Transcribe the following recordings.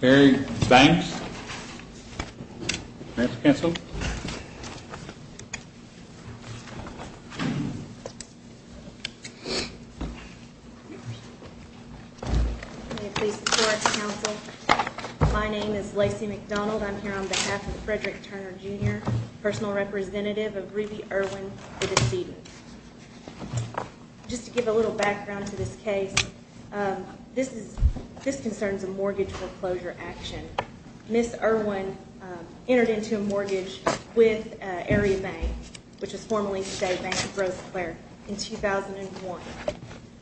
Larry Spangs Mayor's Council My name is Lacy McDonald. I'm here on behalf of Frederick Turner Jr. Personal representative of Ruby Erwin the Deceased Just to give a little background to this case This concerns a mortgage foreclosure action Ms. Erwin entered into a mortgage with Area Bank, which is formally today Bank of Rose Claire in 2001.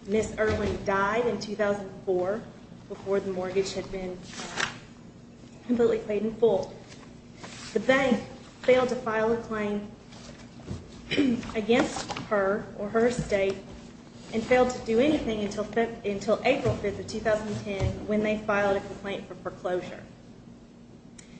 Ms. Erwin died in 2004 before the mortgage had been completely paid in full. The bank failed to file a claim against her or her estate and failed to do anything until April 5, 2010 when they filed a complaint for foreclosure.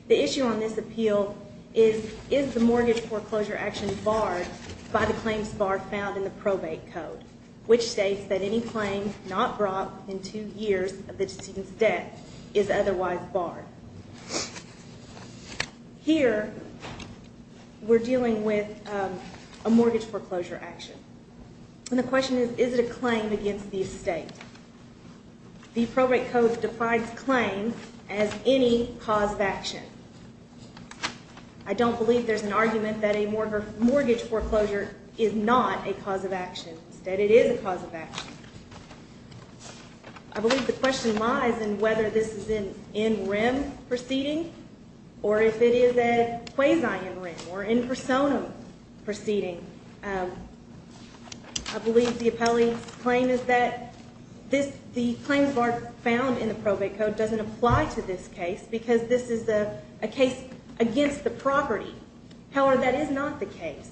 The issue on this appeal is, is the mortgage foreclosure action barred by the claims bar found in the probate code, which states that any claim not brought within two years of the deceased's debt is otherwise barred. Here, we're dealing with a mortgage foreclosure action. And the question is, is it a claim against the estate? The probate code defines claims as any cause of action. I don't believe there's an argument that a mortgage foreclosure is not a cause of action Instead, it is a cause of action. I believe the question lies in whether this is an in-rem proceeding or if it is a quasi-in-rem or in-personam proceeding. I believe the appellee's claim is that the claims bar found in the probate code doesn't apply to this case because this is a case against the property. However, that is not the case.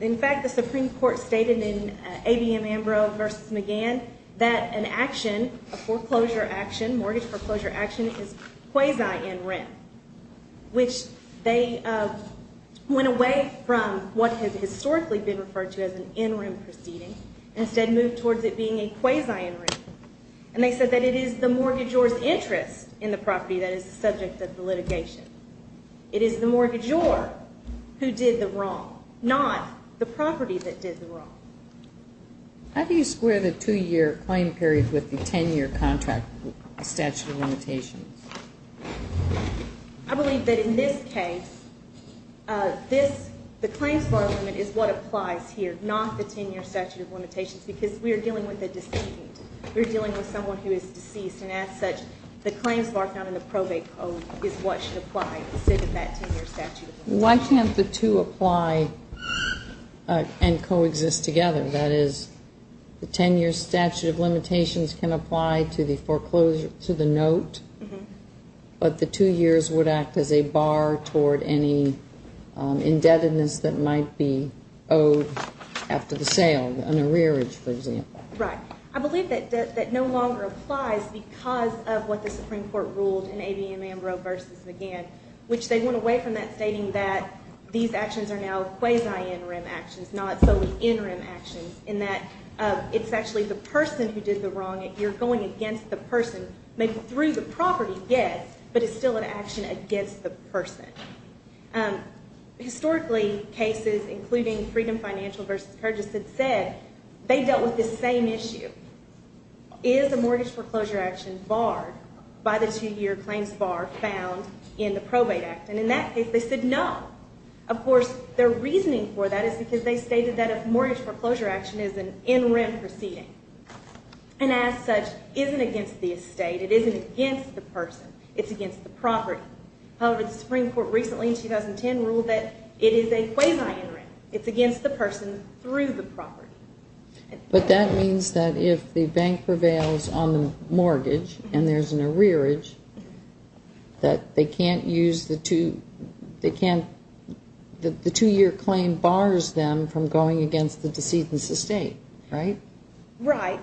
In fact, the Supreme Court stated in ABM Ambrose v. McGann that an action, a foreclosure action, mortgage foreclosure action is quasi-in-rem, which they went away from what has historically been referred to as an in-rem proceeding and instead moved towards it being a quasi-in-rem. And they said that it is the mortgagor's interest in the property that is the subject of the litigation. It is the mortgagor who did the wrong, not the property that did the wrong. How do you square the two-year claim period with the ten-year contract statute of limitations? I believe that in this case the claims bar limit is what applies here, not the ten-year statute of limitations, because we are dealing with a decedent. We are dealing with someone who is deceased, and as such, the claims bar found in the probate code is what should apply instead of that ten-year statute of limitations. Why can't the two apply and coexist together? That is, the ten-year statute of limitations can apply to the foreclosure to the note, but the two years would act as a bar toward any indebtedness that might be owed after the sale, an arrearage, for example. Right. I believe that no longer applies because of what the Supreme Court ruled in A.B. Ambrose v. McGann, which they went away from that stating that these actions are now quasi-in-rem actions, not solely in-rem actions, in that it's actually the person who did the wrong thing. You're going against the person, maybe through the property, yes, but it's still an action against the person. Historically, cases including Freedom Financial v. Purchase had said they dealt with the same issue. Is a mortgage foreclosure action barred by the two-year claims bar found in the probate act? And in that case, they said no. Of course, their reasoning for that is because they stated that a mortgage foreclosure action is an in-rem proceeding, and as such, isn't against the estate. It isn't against the person. It's against the property. However, the Supreme Court recently, in 2010, ruled that it is a quasi-in-rem. It's against the person through the property. But that means that if the bank prevails on the mortgage and there's an arrearage, that they can't use the two they can't, the two-year claim bars them from going against the decedent's estate, right? Right.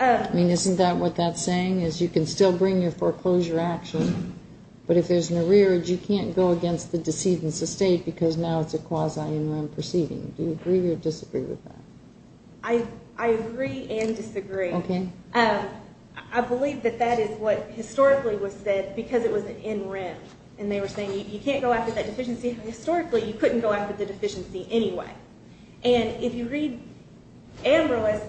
I mean, isn't that what that's saying? You can still bring your foreclosure action, but if there's an arrearage, you can't go against the decedent's estate because now it's a quasi-in-rem proceeding. Do you agree or disagree with that? I agree and disagree. Okay. I believe that that is what historically was said because it was an in-rem. And they were saying you can't go after that deficiency. Historically, you couldn't go after the if you read Ambrose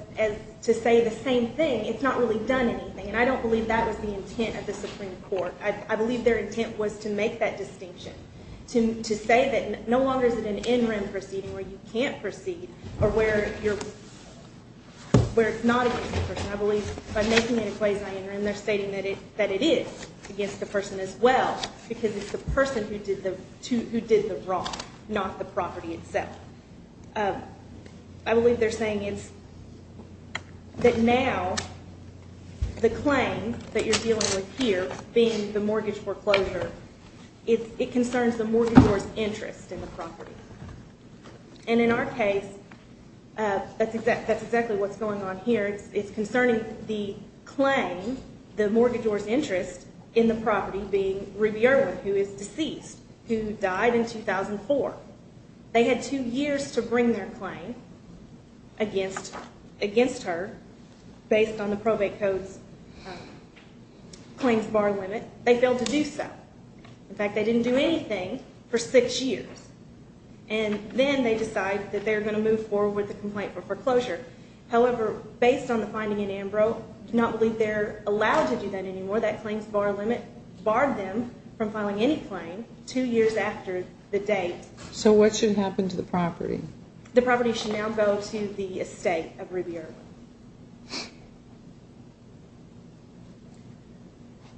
to say the same thing, it's not really done anything. And I don't believe that was the intent of the Supreme Court. I believe their intent was to make that distinction. To say that no longer is it an in-rem proceeding where you can't proceed or where it's not against the person. I believe by making it a quasi-in-rem, they're stating that it is against the person as well because it's the person who did the wrong, not the property itself. I believe they're saying it's that now the claim that you're dealing with here being the mortgage foreclosure, it concerns the mortgagor's interest in the property. And in our case, that's exactly what's going on here. It's concerning the claim, the mortgagor's interest in the property being Ruby Irwin, who is deceased, who died in 2004. They had two years to bring their claim against her based on the probate code's claims bar limit. They failed to do so. In fact, they didn't do anything for six years. And then they decide that they're going to move forward with the complaint for foreclosure. However, based on the finding in Ambrose, I do not believe they're allowed to do that anymore. That claims bar limit barred them from filing any claim two years after the date. So what should happen to the property? The property should now go to the estate of Ruby Irwin.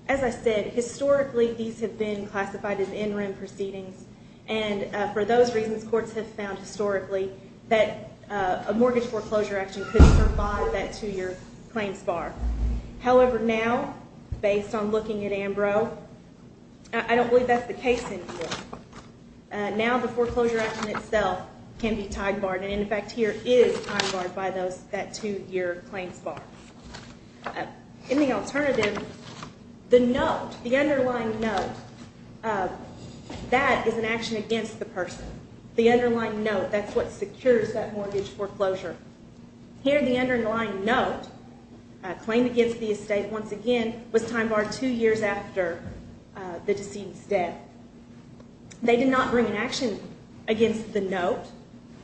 As I said, historically, these have been classified as in-rim proceedings. And for those reasons, courts have found historically that a mortgage foreclosure action could provide that two-year claims bar. However, now, based on looking at the evidence, I don't believe that's the case anymore. Now, the foreclosure action itself can be time-barred. And in fact, here is time-barred by that two-year claims bar. In the alternative, the note, the underlying note, that is an action against the person. The underlying note, that's what secures that mortgage foreclosure. Here, the underlying note, a claim against the estate, once again, was time-barred two years after the decedent's death. They did not bring an action against the note.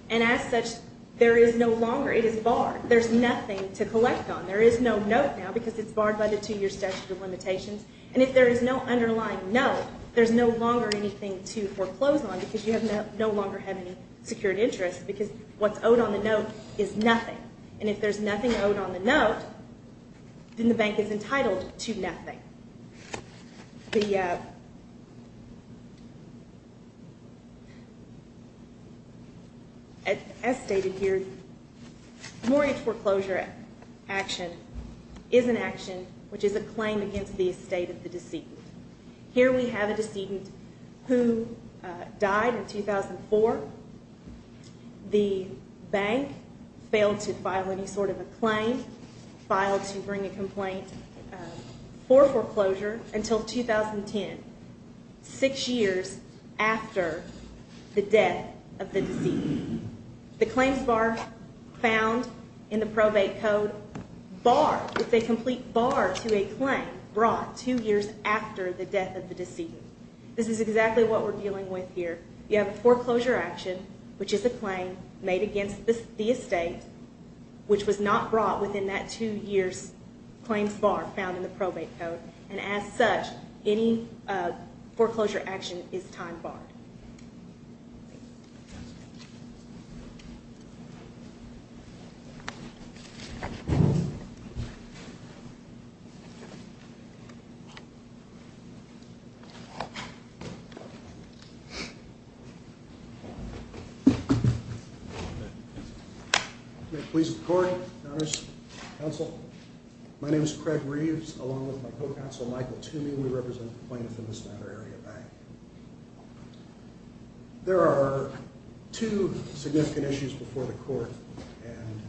And as such, there is no longer, it is barred. There's nothing to collect on. There is no note now because it's barred by the two-year statute of limitations. And if there is no underlying note, there's no longer anything to foreclose on because you no longer have any secured interest because what's owed on the note is nothing. And if there's nothing owed on the note, then the bank is entitled to nothing. As stated here, mortgage foreclosure action is an action which is a claim against the estate of the decedent. Here we have a decedent who died in 2004. The bank failed to file to bring a complaint for foreclosure until 2010, six years after the death of the decedent. The claims bar found in the probate code, barred. It's a complete bar to a claim brought two years after the death of the decedent. This is exactly what we're dealing with here. You have foreclosure action, which is a claim made against the estate, which was not brought within that two years claims bar found in the probate code. And as such, any foreclosure action is time barred. My name is Craig Reeves, along with my co-counsel Michael Toomey. We represent the plaintiff in this matter, Area Bank. There are two significant issues before the court, and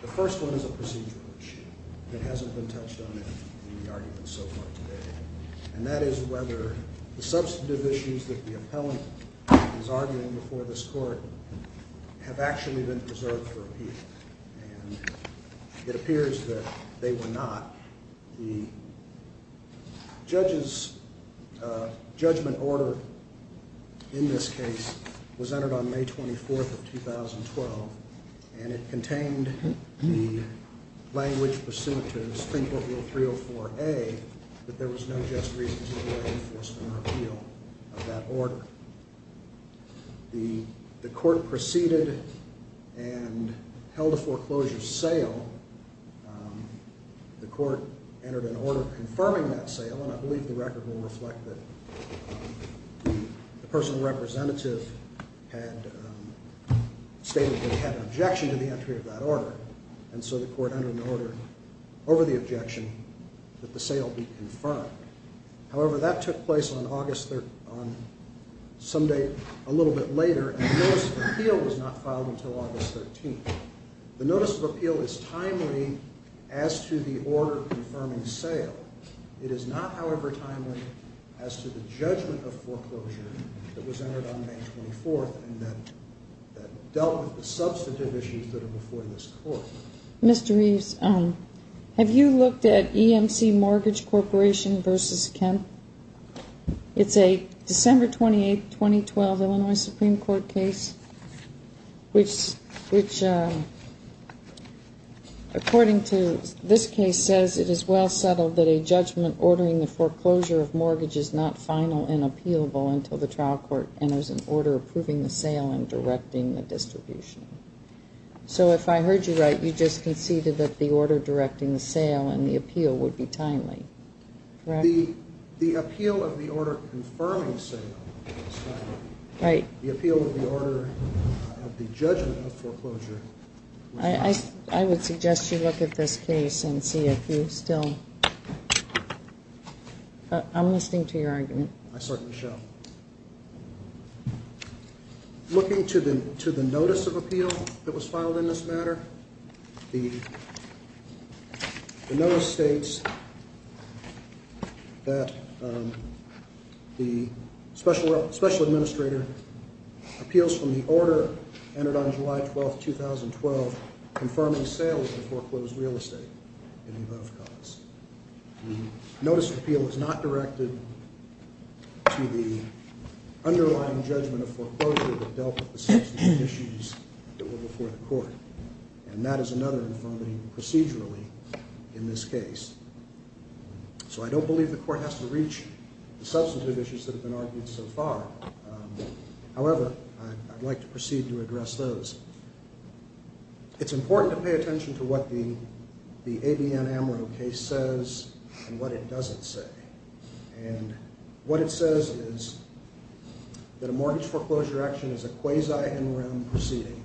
the first one is a procedural issue that hasn't been touched on in the argument so far today. And that is whether the substantive issues that the appellant is arguing before this court have actually been preserved for appeal. It appears that they were not. The judge's judgment order in this case was entered on May 24th of 2012, and it contained the language pursuant to Supreme Court Rule 304A that there was no just reason to delay enforcement or appeal of that order. The court proceeded and held a foreclosure sale. The court entered an order confirming that sale, and I believe the record will reflect that the personal representative had stated that he had an objection to the entry of that order, and so the court entered an order over the objection that the sale be confirmed. However, that took place on some date a little bit later, and the notice of appeal was not filed until August 13th. The notice of appeal is timely as to the order confirming sale. It is not, however, timely as to the judgment of foreclosure that was entered on May 24th and that dealt with the substantive issues that are before this court. Mr. Reeves, have you looked at EMC Mortgage Corporation v. Kemp? It's a December 28, 2012 Illinois Supreme Court case, which according to this case says, it is well settled that a judgment ordering the foreclosure of mortgage is not final and appealable until the trial court enters an order approving the sale and directing the distribution. So if I heard you right, you just conceded that the order directing the sale and the appeal would be timely, correct? The appeal of the order confirming sale was timely. Right. The appeal of the order of the judgment of foreclosure was timely. I would suggest you look at this case and see if you still I'm listening to your argument. I certainly shall. Looking to the notice of appeal that was filed in this matter, the notice states that the special administrator appeals from the order entered on July 12, 2012 confirming sale of the foreclosed real estate in the event of cause. The notice of appeal is not directed to the underlying judgment of foreclosure that dealt with the substantive issues that were before the court. And that is another infirmity procedurally in this case. So I don't believe the court has to reach the substantive issues that have been argued so far. However, I'd like to proceed to address those. It's important to pay attention to what the ABN-AMRO case says and what it doesn't say. And what it says is that a mortgage foreclosure action is a quasi-in-room proceeding.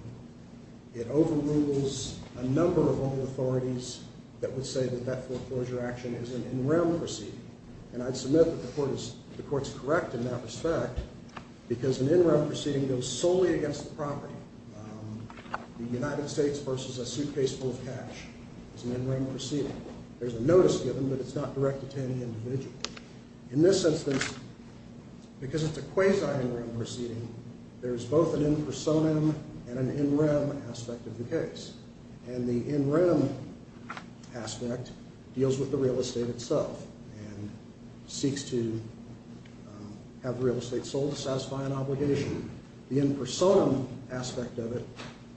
It overrules a number of other authorities that would say that that foreclosure action is an in-room proceeding. And I'd submit that the court is correct in that respect because an in-room proceeding goes solely against the property. The United States versus a suitcase full of cash is an in-room proceeding. There's a notice given, but it's not directed to any individual. In this instance, because it's a quasi-in-room proceeding, there's both an in-personam and an in-rem aspect of the case. And the in-rem aspect deals with the real estate itself and seeks to have the real estate sold to satisfy an obligation. The in-personam aspect of it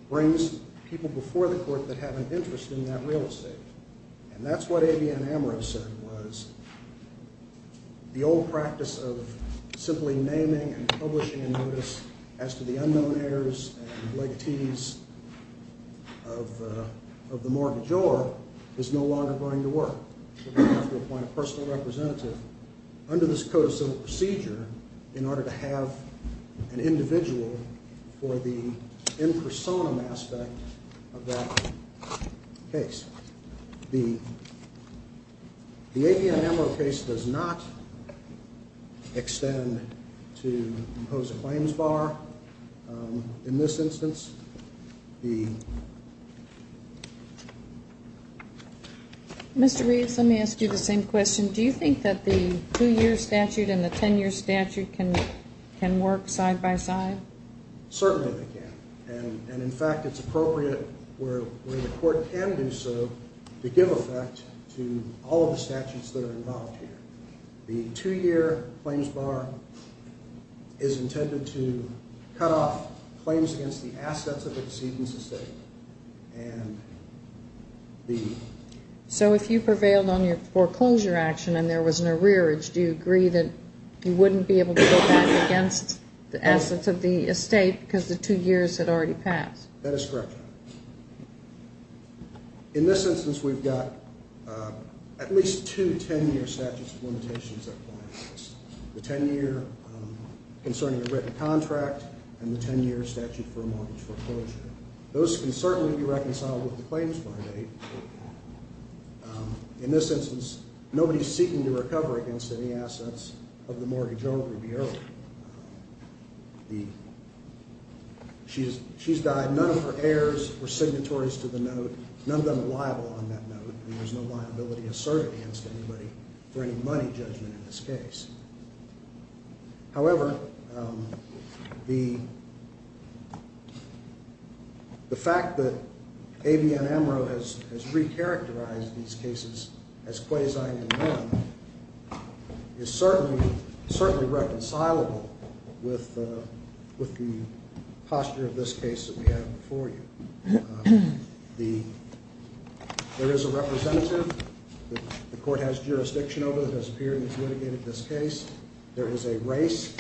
brings people before the court that have an interest in that real estate. And that's what ABN-AMRO said was the old practice of simply naming and publishing a notice as to the unknown heirs and legatees of the mortgage or is no longer going to work. You have to appoint a personal representative under this code of civil procedure in order to have an individual for the in-personam aspect of that case. The ABN-AMRO case does not extend to impose a claims bar in this instance. Mr. Reeves, let me ask you the same question. Do you think that the 2-year statute and the 10-year statute can work side-by-side? Certainly they can. And in fact, it's appropriate where the court can do so to give effect to all of the statutes that are involved here. The 2-year claims bar is intended to cut off claims against the assets of the decedent's estate. So if you prevailed on your foreclosure action and there was an arrearage, do you agree that you wouldn't be able to go back against the assets of the estate because the 2 years had already passed? That is correct. In this instance, we've got at least two 10-year statutes of limitations that apply to this. The 10-year concerning a written contract and the 10-year statute for a mortgage foreclosure. Those can certainly be reconciled with the claims bond age. In this instance, nobody is seeking to recover against any assets of the mortgage owner to be earned. She's died. None of her heirs were signatories to the note. None of them are liable on that note and there's no liability asserted against anybody for any money judgment in this case. However, the fact that ABN Amaro has re-characterized these cases as quasi-newborn is certainly reconcilable with the posture of this case that we have before you. There is a representative that the court has jurisdiction over that has appeared and has litigated this case. There was a race,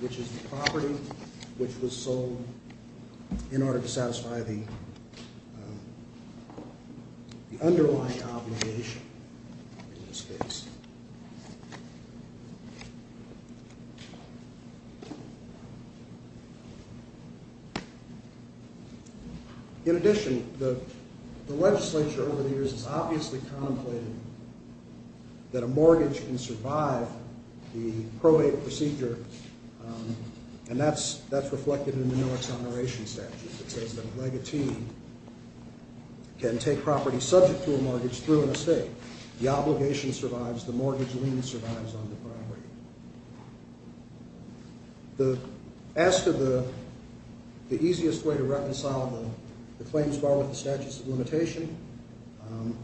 which is the property, which was sold in order to satisfy the underlying obligation in this case. In addition, the legislature over the years has obviously contemplated that a mortgage can survive the probate procedure and that's reflected in the no exoneration statute that says that a legatee can take property subject to a mortgage through an estate. The obligation survives. The mortgage lien survives on the property. As to the easiest way to reconcile the claims bar with the statutes of limitation, and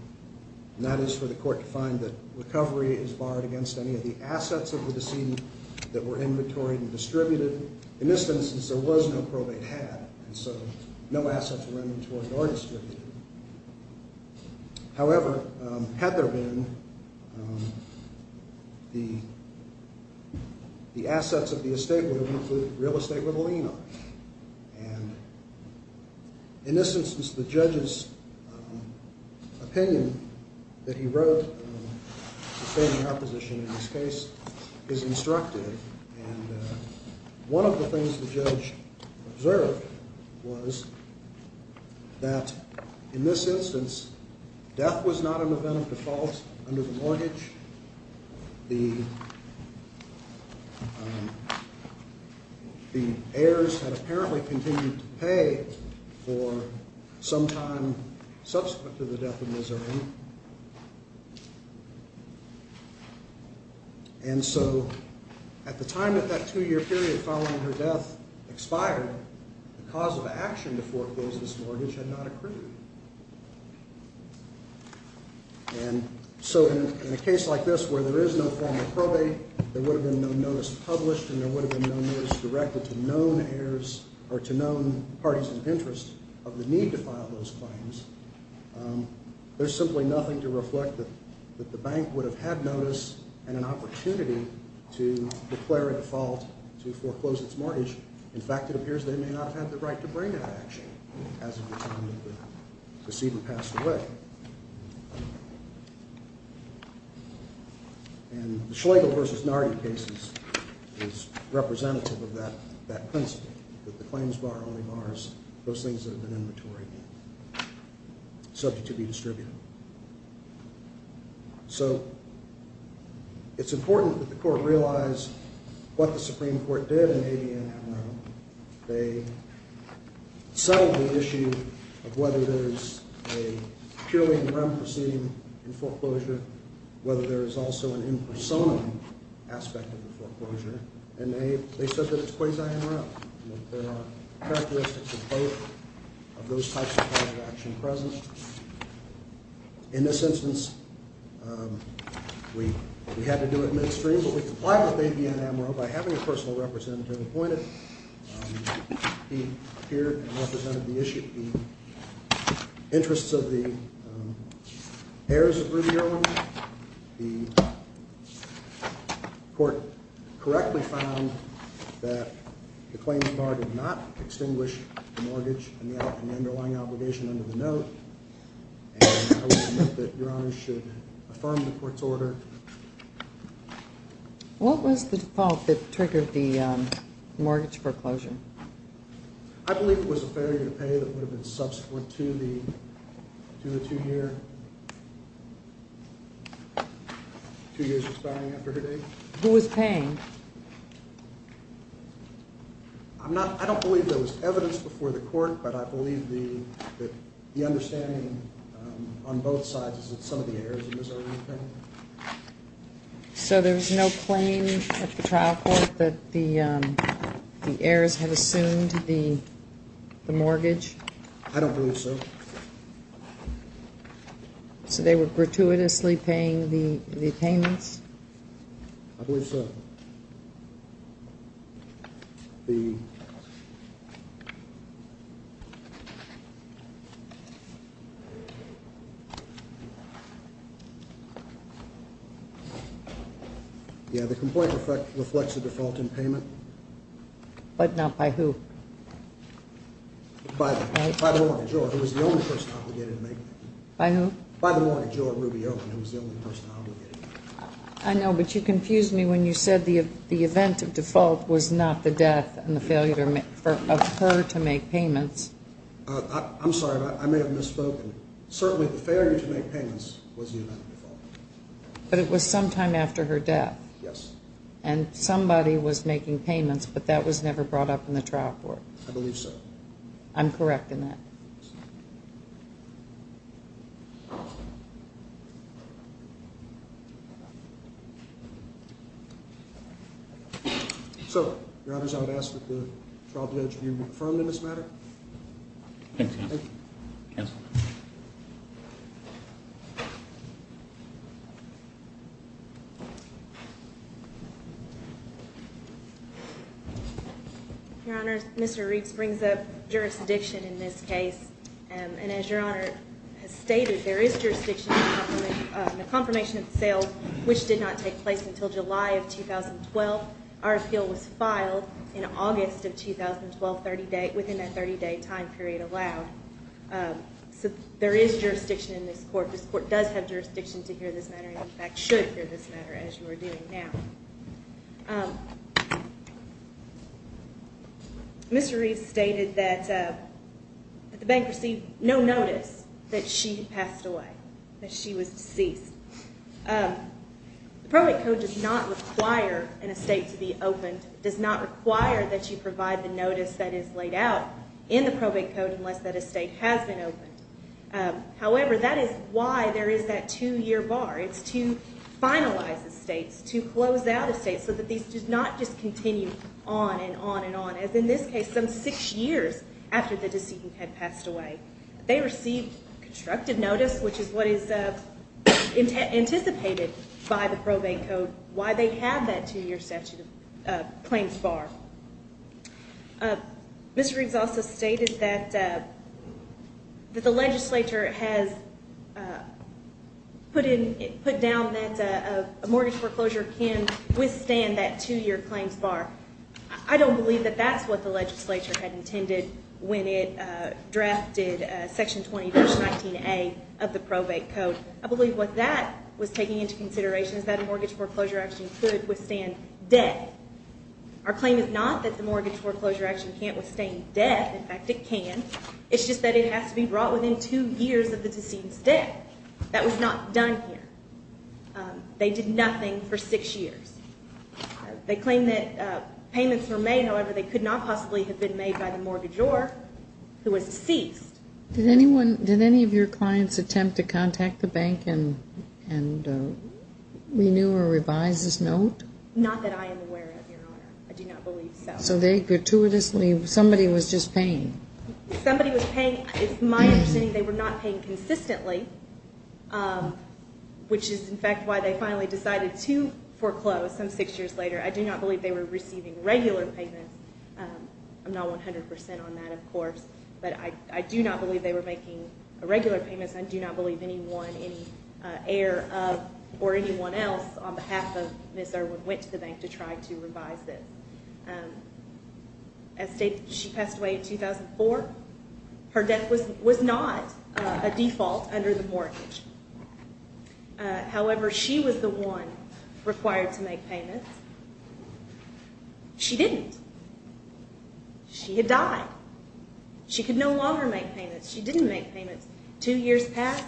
that is for the court to find that recovery is barred against any of the assets of the decedent that were inventoried and distributed. In this instance, there was no probate had and so no assets were inventoried or distributed. However, had there been the assets of the estate would have been real estate with a lien on it. In this instance, the judge's opinion that he wrote in his case is instructive. One of the things the judge observed was that in this instance death was not an event of default under the mortgage. The heirs had apparently continued to pay for some time subsequent to the death of Miss Erin. At the time of that two year period following her death expired, the cause of action to foreclose this mortgage had not accrued. And so in a case like this where there is no formal probate, there would have been no notice published and there would have been no notice directed to known heirs or to known parties of interest of the need to file those claims. There's simply nothing to reflect that the bank would have had notice and an opportunity to declare a default to foreclose its mortgage. In fact, it appears they may not have had the right to bring that action. As of the time the decedent passed away. And the Schlegel versus Nardi cases is representative of that principle that the claims bar only bars those things that have been inventory subject to be distributed. So it's important that the court realize what the Supreme Court did in 1889. They settled the issue of whether there's a purely in rem proceeding in foreclosure whether there is also an impersonal aspect of the foreclosure and they said that it's quasi in rem. There are characteristics of both of those types of kinds of action present. In this instance we had to do it midstream but we complied with ABN Amaro by having a personal representative appointed. He appeared and represented the interests of the heirs of Rudy Erwin. The court correctly found that the claims bar did not extinguish the mortgage and the underlying obligation under the note. And I would submit that Your Honor should affirm the court's order. What was the fault that triggered the mortgage foreclosure? I believe it was a failure to pay that would have been subsequent to the two year two years expiring after her date. Who was paying? I don't believe there was evidence before the court but I believe the understanding on both sides is that some of the So there was no claim at the trial court that the heirs had assumed the mortgage? I don't believe so. So they were gratuitously paying the payments? I believe so. Yeah, the complaint reflects a default in payment. But not by who? By the mortgagor who was the only person obligated to make payments. By who? By the mortgagor Rudy Erwin who was the only person obligated to make payments. I know but you confused me when you said the event of default was not the death and the failure of her to make payments. I'm sorry, I may have misspoken. Certainly the failure to make payments was the event of default. But it was sometime after her death? Yes. And somebody was making payments but that was never brought up in the trial court? I believe so. I'm correct in that. So, Your Honor, I would ask that the trial judge be reaffirmed in this matter. Thank you. Your Honor, Mr. Reaves brings up jurisdiction in this case. And as Your Honor has stated, there is jurisdiction in the confirmation of the sales which did not take place until July of 2012. Our appeal was filed in August of 2012 within that 30-day time period allowed. The court does have jurisdiction to hear this matter and in fact should hear this matter as you are doing now. Mr. Reaves stated that the bank received no notice that she had passed away, that she was deceased. The probate code does not require an estate to be opened. It does not require that you provide the notice that is laid out in the probate code unless that estate has been opened. However, that is why there is that two-year bar. It's to finalize estates, to close out estates so that these do not just continue on and on and on as in this case some six years after the decedent had passed away. They received constructive notice which is what is anticipated by the probate code why they have that two-year statute of claims bar. Mr. Reaves also stated that the legislature has put down that a mortgage foreclosure can withstand that two-year claims bar. I don't believe that that's what the legislature had intended when it drafted section 20 verse 19A of the probate code. I believe what that was taking into consideration is that a mortgage foreclosure action could withstand debt. Our claim is not that the mortgage foreclosure action can't withstand debt. In fact, it can. It's just that it has to be brought within two years of the decedent's death. That was not done here. They did nothing for six years. They claim that payments were made. However, they could not possibly have been made by the mortgagor who was deceased. Did any of your clients attempt to contact the bank and renew or revise this note? Not that I am aware of, Your Honor. I do not believe so. So they gratuitously, somebody was just paying. Somebody was paying. It's my understanding they were not paying consistently, which is, in fact, why they finally decided to foreclose some six years later. I do not believe they were receiving regular payments. I'm not 100 percent on that, of course, but I do not believe they were making irregular payments. I do not believe anyone, any heir of or anyone else on behalf of Ms. Irwin went to the bank to try to revise this. As stated, she passed away in 2004. Her death was not a default under the mortgage. However, she was the one required to make payments. She didn't. She had died. She could no longer make payments. She didn't make payments. Two years passed.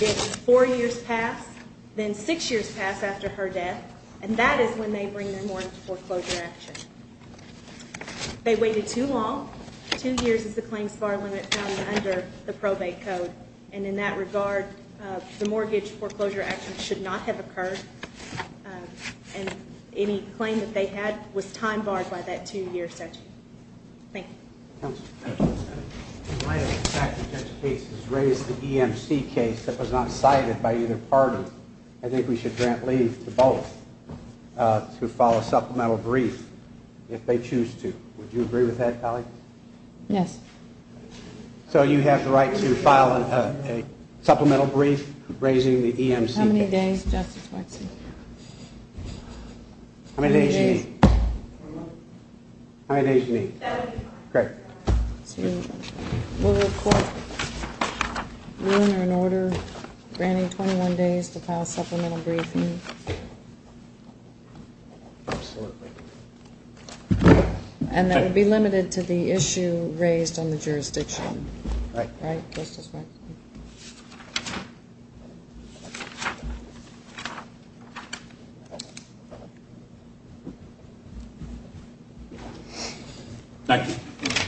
Then four years passed. Then six years passed after her death, and that is when they bring the mortgage foreclosure action. They waited too long. Two years is the claims bar limit found under the probate code, and in that regard the mortgage foreclosure action should not have occurred and any claim that they had was time barred by that two-year statute. Thank you. In light of the fact that this case is raised the EMC case that was not cited by either party, I think we should grant leave to both to file a supplemental brief if they choose to. Would you agree with that, Colleen? Yes. So you have the right to file a supplemental brief raising the EMC case. How many days, Justice Wexler? How many days do you need? We'll report ruin or an order granting 21 days to file a supplemental brief. And that will be limited to the issue raised on the jurisdiction. Thank you. Thank you. Thank you.